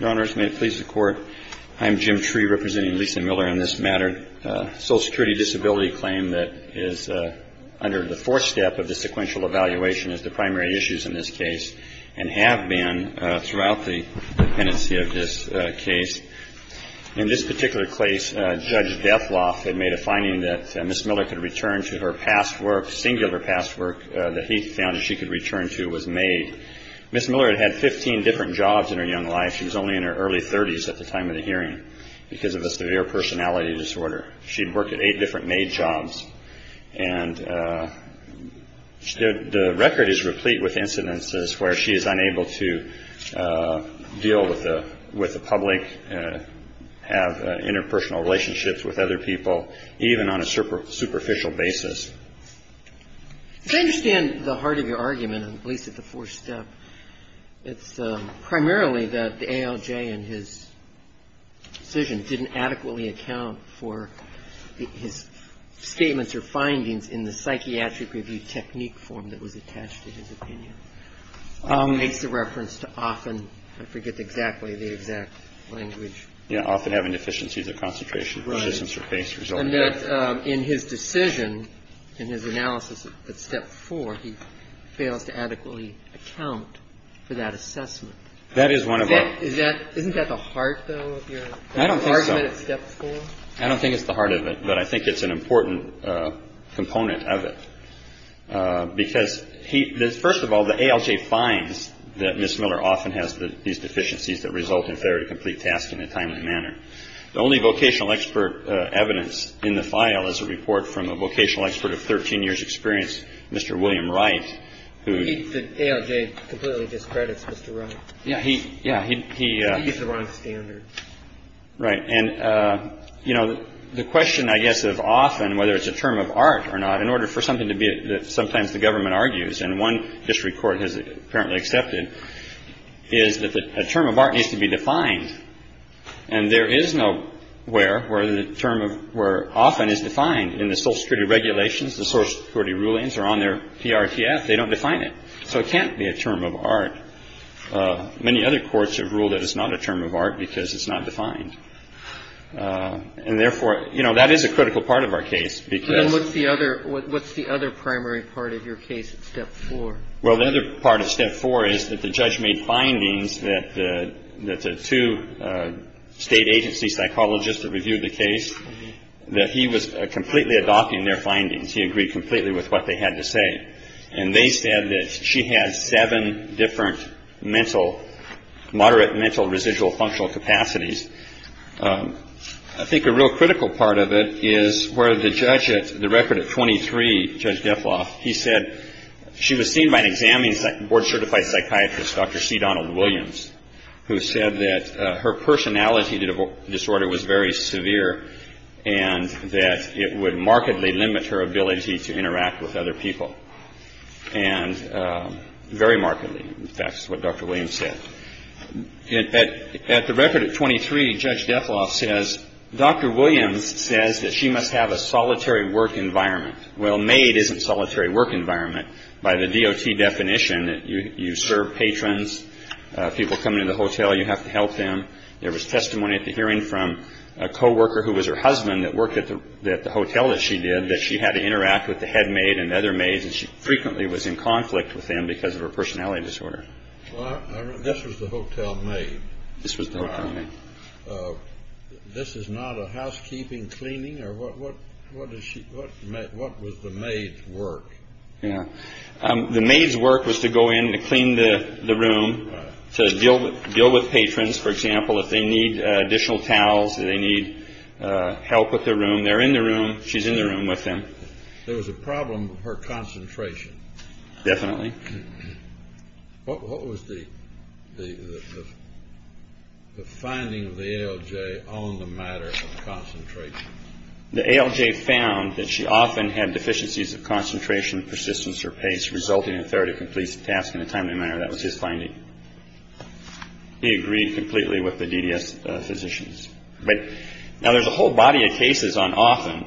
Your Honors, may it please the Court, I'm Jim Tree representing Lisa Miller on this matter. A Social Security disability claim that is under the fourth step of the sequential evaluation is the primary issues in this case, and have been throughout the dependency of this case. In this particular case, Judge Dethloff had made a finding that Ms. Miller could return to her past work, singular past work that he found that she could return to was made. Ms. Miller had had 15 different jobs in her young life. She was only in her early 30s at the time of the hearing because of a severe personality disorder. She had worked at eight different maid jobs. And the record is replete with incidences where she is unable to deal with the public, have interpersonal relationships with other people, even on a superficial basis. As I understand the heart of your argument, at least at the fourth step, it's primarily that the ALJ in his decision didn't adequately account for his statements or findings in the psychiatric review technique form that was attached to his opinion. He makes the reference to often, I forget exactly the exact language. Yeah, often having deficiencies of concentration. Right. And that in his decision, in his analysis at step four, he fails to adequately account for that assessment. That is one of our. Isn't that the heart, though, of your argument at step four? I don't think so. I don't think it's the heart of it, but I think it's an important component of it. Because, first of all, the ALJ finds that Ms. Miller often has these deficiencies that result in failure to complete tasks in a timely manner. The only vocational expert evidence in the file is a report from a vocational expert of 13 years experience, Mr. William Wright. The ALJ completely discredits Mr. Wright. Yeah. He used the wrong standards. Right. And, you know, the question, I guess, is often whether it's a term of art or not in order for something to be sometimes the government argues. And one district court has apparently accepted is that a term of art needs to be defined. And there is no where where the term of where often is defined in the social security regulations. The social security rulings are on their PRTF. They don't define it. So it can't be a term of art. Many other courts have ruled that it's not a term of art because it's not defined. And therefore, you know, that is a critical part of our case. What's the other primary part of your case at step four? Well, the other part of step four is that the judge made findings that the two state agency psychologists that reviewed the case, that he was completely adopting their findings. He agreed completely with what they had to say. And they said that she has seven different mental moderate mental residual functional capacities. I think a real critical part of it is where the judge at the record of twenty three. He said she was seen by an examining board certified psychiatrist, Dr. C. Donald Williams, who said that her personality disorder was very severe and that it would markedly limit her ability to interact with other people. And very markedly. In fact, that's what Dr. Williams said. At the record of twenty three, Judge Defloff says Dr. Williams says that she must have a solitary work environment. Well, made isn't solitary work environment. By the D.O.T. definition, you serve patrons. People come into the hotel. You have to help them. There was testimony at the hearing from a co-worker who was her husband that worked at the hotel that she did that she had to interact with the head maid and other maids and she frequently was in conflict with them because of her personality disorder. This was the hotel made. This was the. This is not a housekeeping cleaning or what. What is she. What. What was the maid's work. The maid's work was to go in and clean the room to deal with deal with patrons. For example, if they need additional towels, they need help with their room. When they're in the room, she's in the room with them. There was a problem with her concentration. Definitely. What was the. The finding of the LJ on the matter of concentration. The LJ found that she often had deficiencies of concentration, persistence or pace resulting in a 30 completion task in a timely manner. That was his finding. He agreed completely with the DDS physicians. But now there's a whole body of cases on often.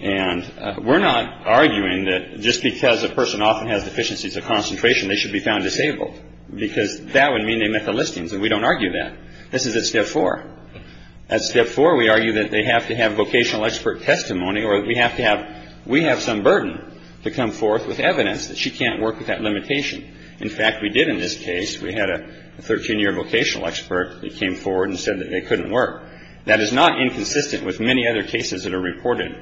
And we're not arguing that just because a person often has deficiencies of concentration, they should be found disabled, because that would mean they met the listings. And we don't argue that this is a step for a step for. We argue that they have to have vocational expert testimony or that we have to have. We have some burden to come forth with evidence that she can't work with that limitation. In fact, we did in this case, we had a 13 year vocational expert that came forward and said that they couldn't work. That is not inconsistent with many other cases that are reported.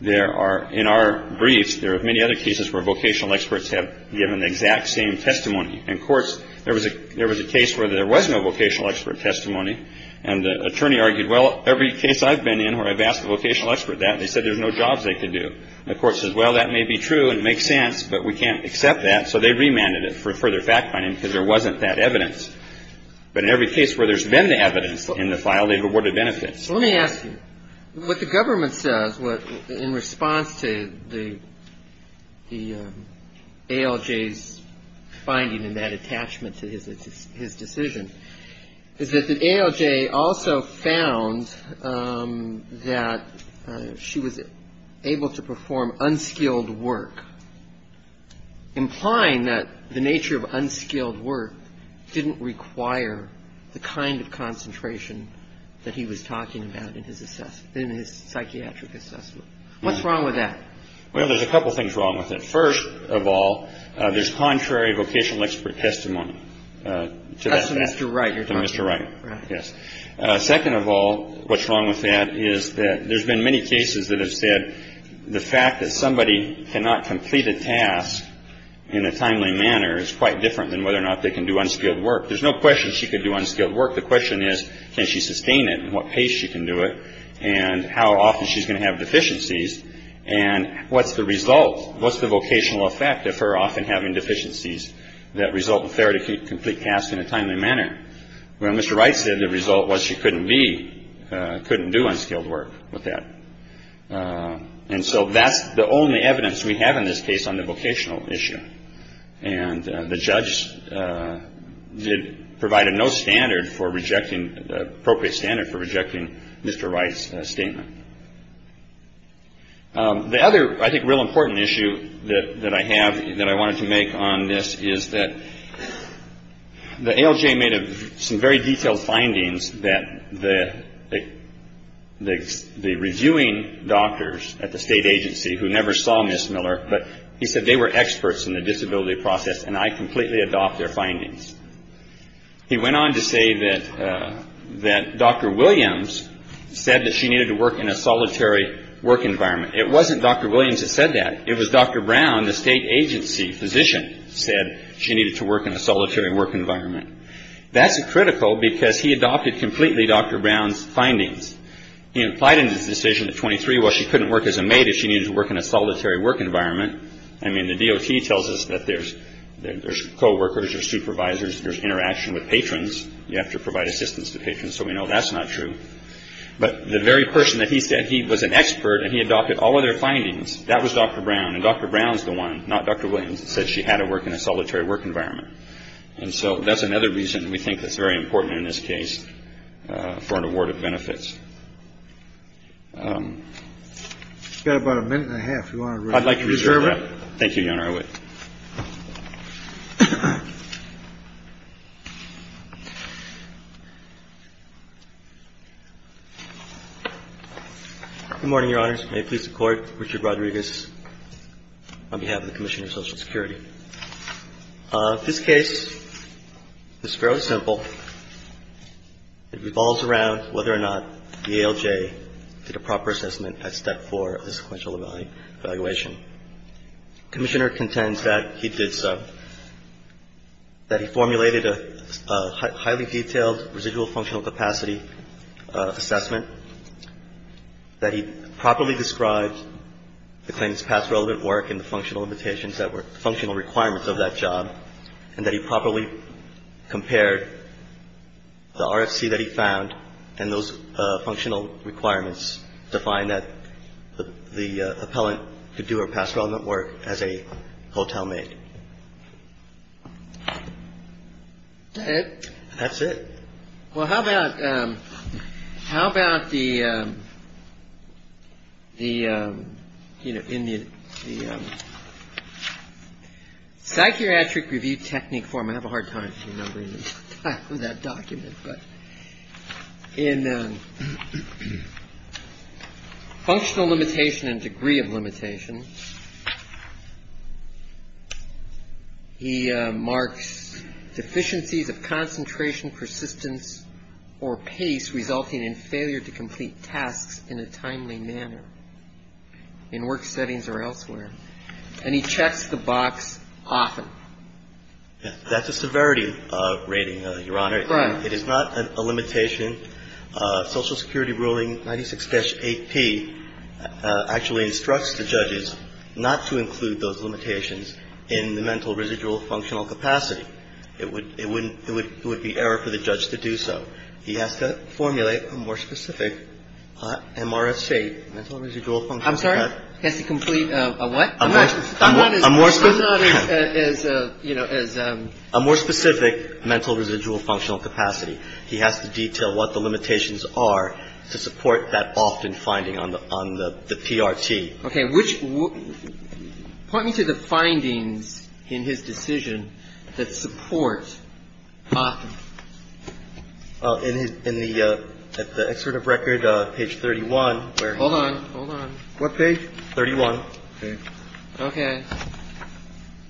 There are in our briefs. There are many other cases where vocational experts have given the exact same testimony. And of course, there was a there was a case where there was no vocational expert testimony. And the attorney argued, well, every case I've been in where I've asked a vocational expert that they said there's no jobs they could do. Of course, as well, that may be true and make sense, but we can't accept that. So they remanded it for further fact finding because there wasn't that evidence. But in every case where there's been evidence in the file, they've awarded benefits. Let me ask you what the government says. In response to the ALJ's finding in that attachment to his decision, is that the ALJ also found that she was able to perform unskilled work, implying that the nature of unskilled work didn't require the kind of concentration that he was talking about in his assessment, in his psychiatric assessment? What's wrong with that? Well, there's a couple things wrong with it. First of all, there's contrary vocational expert testimony to that. That's to Mr. Wright you're talking about. To Mr. Wright, yes. Second of all, what's wrong with that is that there's been many cases that have said the fact that somebody cannot complete a task in a timely manner is quite different than whether or not they can do unskilled work. There's no question she could do unskilled work. The question is, can she sustain it and what pace she can do it and how often she's going to have deficiencies? And what's the result? What's the vocational effect of her often having deficiencies that result in failure to complete tasks in a timely manner? Well, Mr. Wright said the result was she couldn't be, couldn't do unskilled work with that. And so that's the only evidence we have in this case on the vocational issue. And the judge provided no standard for rejecting, appropriate standard for rejecting Mr. Wright's statement. The other, I think, real important issue that I have that I wanted to make on this is that the ALJ made some very detailed findings that the reviewing doctors at the state agency who never saw Ms. Miller, but he said they were experts in the disability process and I completely adopt their findings. He went on to say that Dr. Williams said that she needed to work in a solitary work environment. It wasn't Dr. Williams that said that. It was Dr. Brown, the state agency physician, said she needed to work in a solitary work environment. That's critical because he adopted completely Dr. Brown's findings. He implied in his decision at 23, well, she couldn't work as a maid if she needed to work in a solitary work environment. I mean, the DOT tells us that there's coworkers, there's supervisors, there's interaction with patrons. You have to provide assistance to patrons, so we know that's not true. But the very person that he said he was an expert and he adopted all of their findings, that was Dr. Brown. And Dr. Brown's the one, not Dr. Williams, that said she had to work in a solitary work environment. And so that's another reason we think that's very important in this case for an award of benefits. You've got about a minute and a half. You want to reserve it? I'd like to reserve that. Thank you, Your Honor. I will. Good morning, Your Honors. May it please the Court. Richard Rodriguez on behalf of the Commission of Social Security. This case is fairly simple. It revolves around whether or not the ALJ did a proper assessment at Step 4 of the sequential evaluation. The Commissioner contends that he did so, that he formulated a highly detailed residual functional capacity assessment, that he properly described the claimant's past relevant work and the functional limitations that were functional requirements of that job, and that he properly compared the RFC that he found and those functional requirements to find that the appellant could do her past relevant work as a hotel maid. That's it. Well, how about the psychiatric review technique form? I have a hard time remembering the title of that document, but in functional limitation and degree of limitation, he marks deficiencies of concentration, persistence, or pace resulting in failure to complete tasks in a timely manner in work settings or elsewhere, and he checks the box often. That's a severity rating, Your Honor. Right. It is not a limitation. Social Security Ruling 96-8P actually instructs the judges not to include those limitations in the mental residual functional capacity. It would be error for the judge to do so. He has to formulate a more specific MRSA, mental residual functional capacity. I'm sorry? He has to complete a what? A more specific mental residual functional capacity. He has to detail what the limitations are to support that often finding on the PRT. Okay. Point me to the findings in his decision that support often. In the excerpt of record, page 31. Hold on. Hold on. What page? 31. Okay. Okay.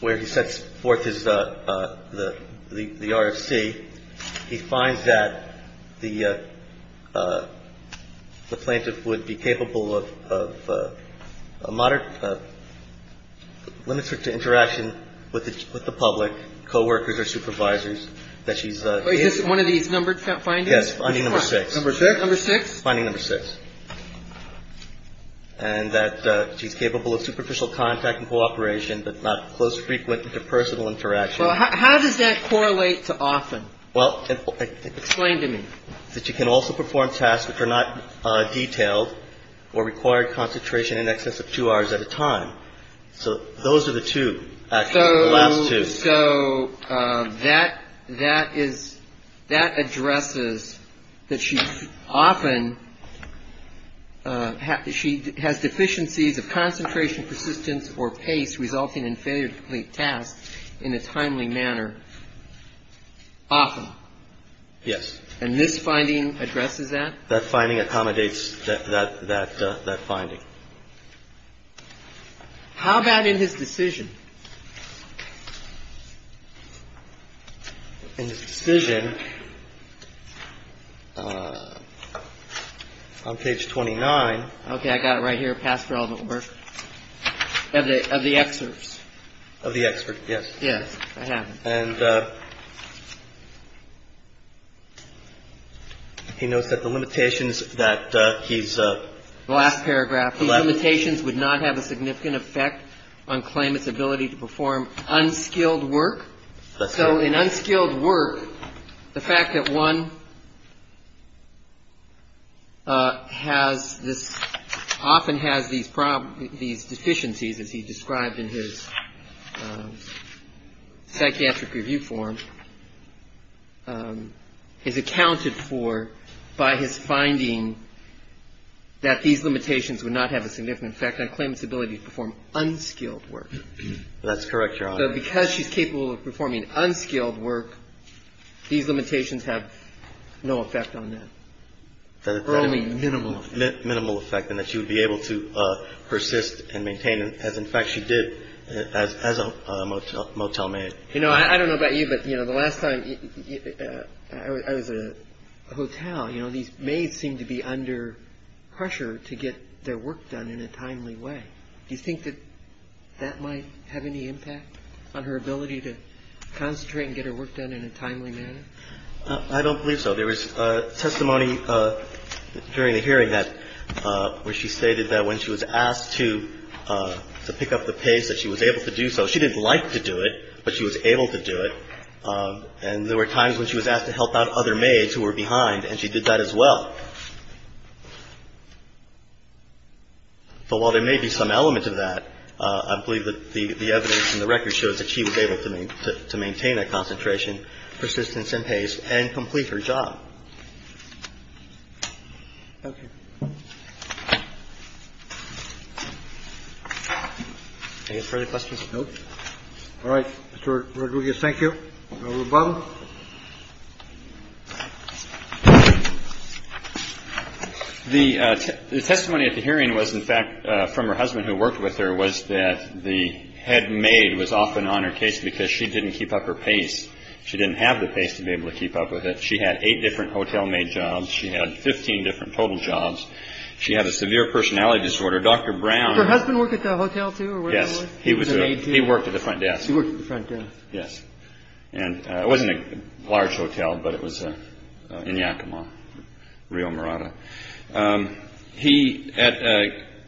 Where he sets forth his, the RFC. He finds that the plaintiff would be capable of a moderate, limits her to interaction with the public, coworkers or supervisors that she's. Is this one of these numbered findings? Yes, finding number 6. Number 6? Number 6. It's finding number 6. And that she's capable of superficial contact and cooperation, but not close, frequent interpersonal interaction. How does that correlate to often? Well. Explain to me. That she can also perform tasks which are not detailed or require concentration in excess of two hours at a time. So those are the two, actually, the last two. So that that is that addresses that she's often. She has deficiencies of concentration, persistence or pace resulting in failure to complete tasks in a timely manner. Often. Yes. And this finding addresses that. That finding accommodates that finding. How about in his decision? In his decision, on page 29. Okay. I got it right here. Past relevant work. Of the excerpts. Of the excerpts. Yes. Yes. I have them. And he notes that the limitations that he's. Last paragraph. Limitations would not have a significant effect on claimant's ability to perform unskilled work. So in unskilled work, the fact that one has this often has these problems, these deficiencies, as he described in his psychiatric review form, is accounted for by his finding that these limitations would not have a significant effect on claimant's ability to perform unskilled work. That's correct, Your Honor. So because she's capable of performing unskilled work, these limitations have no effect on that. Only minimal. And that she would be able to persist and maintain, as in fact she did as a motel motel maid. You know, I don't know about you, but, you know, the last time I was a hotel, you know, these maids seem to be under pressure to get their work done in a timely way. Do you think that that might have any impact on her ability to concentrate and get her work done in a timely manner? I don't believe so. There was testimony during the hearing that where she stated that when she was asked to pick up the pace, that she was able to do so. She didn't like to do it, but she was able to do it. And there were times when she was asked to help out other maids who were behind, and she did that as well. But while there may be some element of that, I believe that the evidence in the record shows that she was able to maintain that concentration, persistence in pace, and complete her job. Thank you. Any further questions? No. All right. Mr. Rodriguez, thank you. Mr. Obama. The testimony at the hearing was, in fact, from her husband who worked with her, was that the head maid was often on her case because she didn't keep up her pace. She didn't have the pace to be able to keep up with it. She had eight different hotel maid jobs. She had 15 different total jobs. She had a severe personality disorder. Dr. Brown. Did her husband work at the hotel, too? Yes. He was a maid, too. He worked at the front desk. He worked at the front desk. Yes. And it wasn't a large hotel, but it was in Yakima, Rio Morada. He,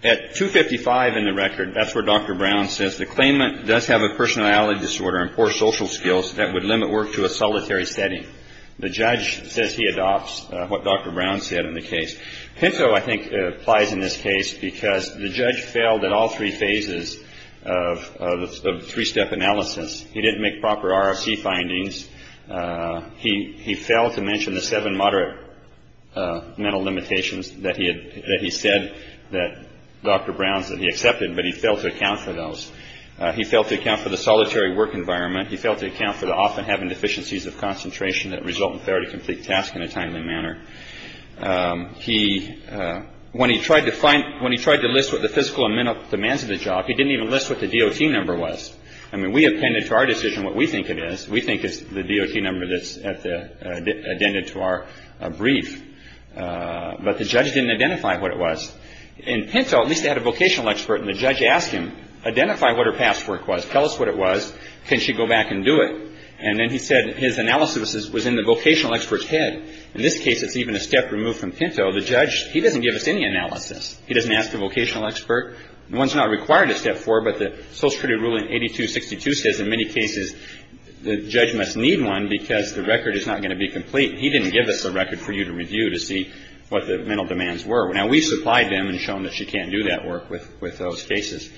at 255 in the record, that's where Dr. Brown says, the claimant does have a personality disorder and poor social skills that would limit work to a solitary setting. The judge says he adopts what Dr. Brown said in the case. Pinto, I think, applies in this case because the judge failed at all three phases of three-step analysis. He didn't make proper RFC findings. He failed to mention the seven moderate mental limitations that he said that Dr. Brown said he accepted, but he failed to account for those. He failed to account for the solitary work environment. He failed to account for the often having deficiencies of concentration that result in failure to complete tasks in a timely manner. When he tried to list what the physical and mental demands of the job, he didn't even list what the DOT number was. I mean, we appended to our decision what we think it is. We think it's the DOT number that's at the end of our brief, but the judge didn't identify what it was. In Pinto, at least they had a vocational expert, and the judge asked him, identify what her past work was. Tell us what it was. Can she go back and do it? And then he said his analysis was in the vocational expert's head. In this case, it's even a step removed from Pinto. The judge, he doesn't give us any analysis. He doesn't ask the vocational expert. One's not required a step four, but the Social Security ruling 8262 says in many cases the judge must need one because the record is not going to be complete. He didn't give us a record for you to review to see what the mental demands were. Now, we supplied them and shown that she can't do that work with those cases.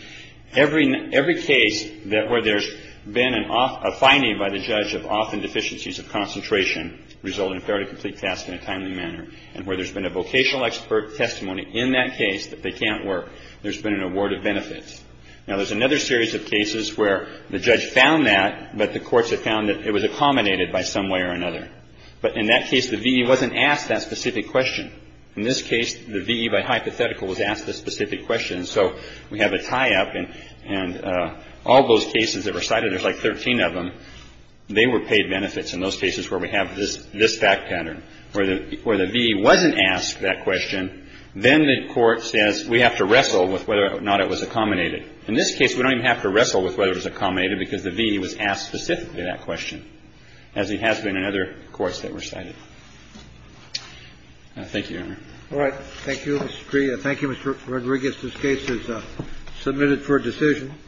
Every case where there's been a finding by the judge of often deficiencies of concentration result in failure to complete tasks in a timely manner, and where there's been a vocational expert testimony in that case that they can't work, there's been an award of benefits. Now, there's another series of cases where the judge found that, but the courts had found that it was accommodated by some way or another. But in that case, the V.E. wasn't asked that specific question. In this case, the V.E. by hypothetical was asked a specific question. So we have a tie-up, and all those cases that were cited, there's like 13 of them, they were paid benefits. In those cases where we have this fact pattern, where the V.E. wasn't asked that question, then the court says we have to wrestle with whether or not it was accommodated. In this case, we don't even have to wrestle with whether it was accommodated because the V.E. was asked specifically that question, as it has been in other courts that were cited. Thank you, Your Honor. Roberts. Thank you, Mr. Cree. Thank you, Mr. Rodriguez. This case is submitted for decision.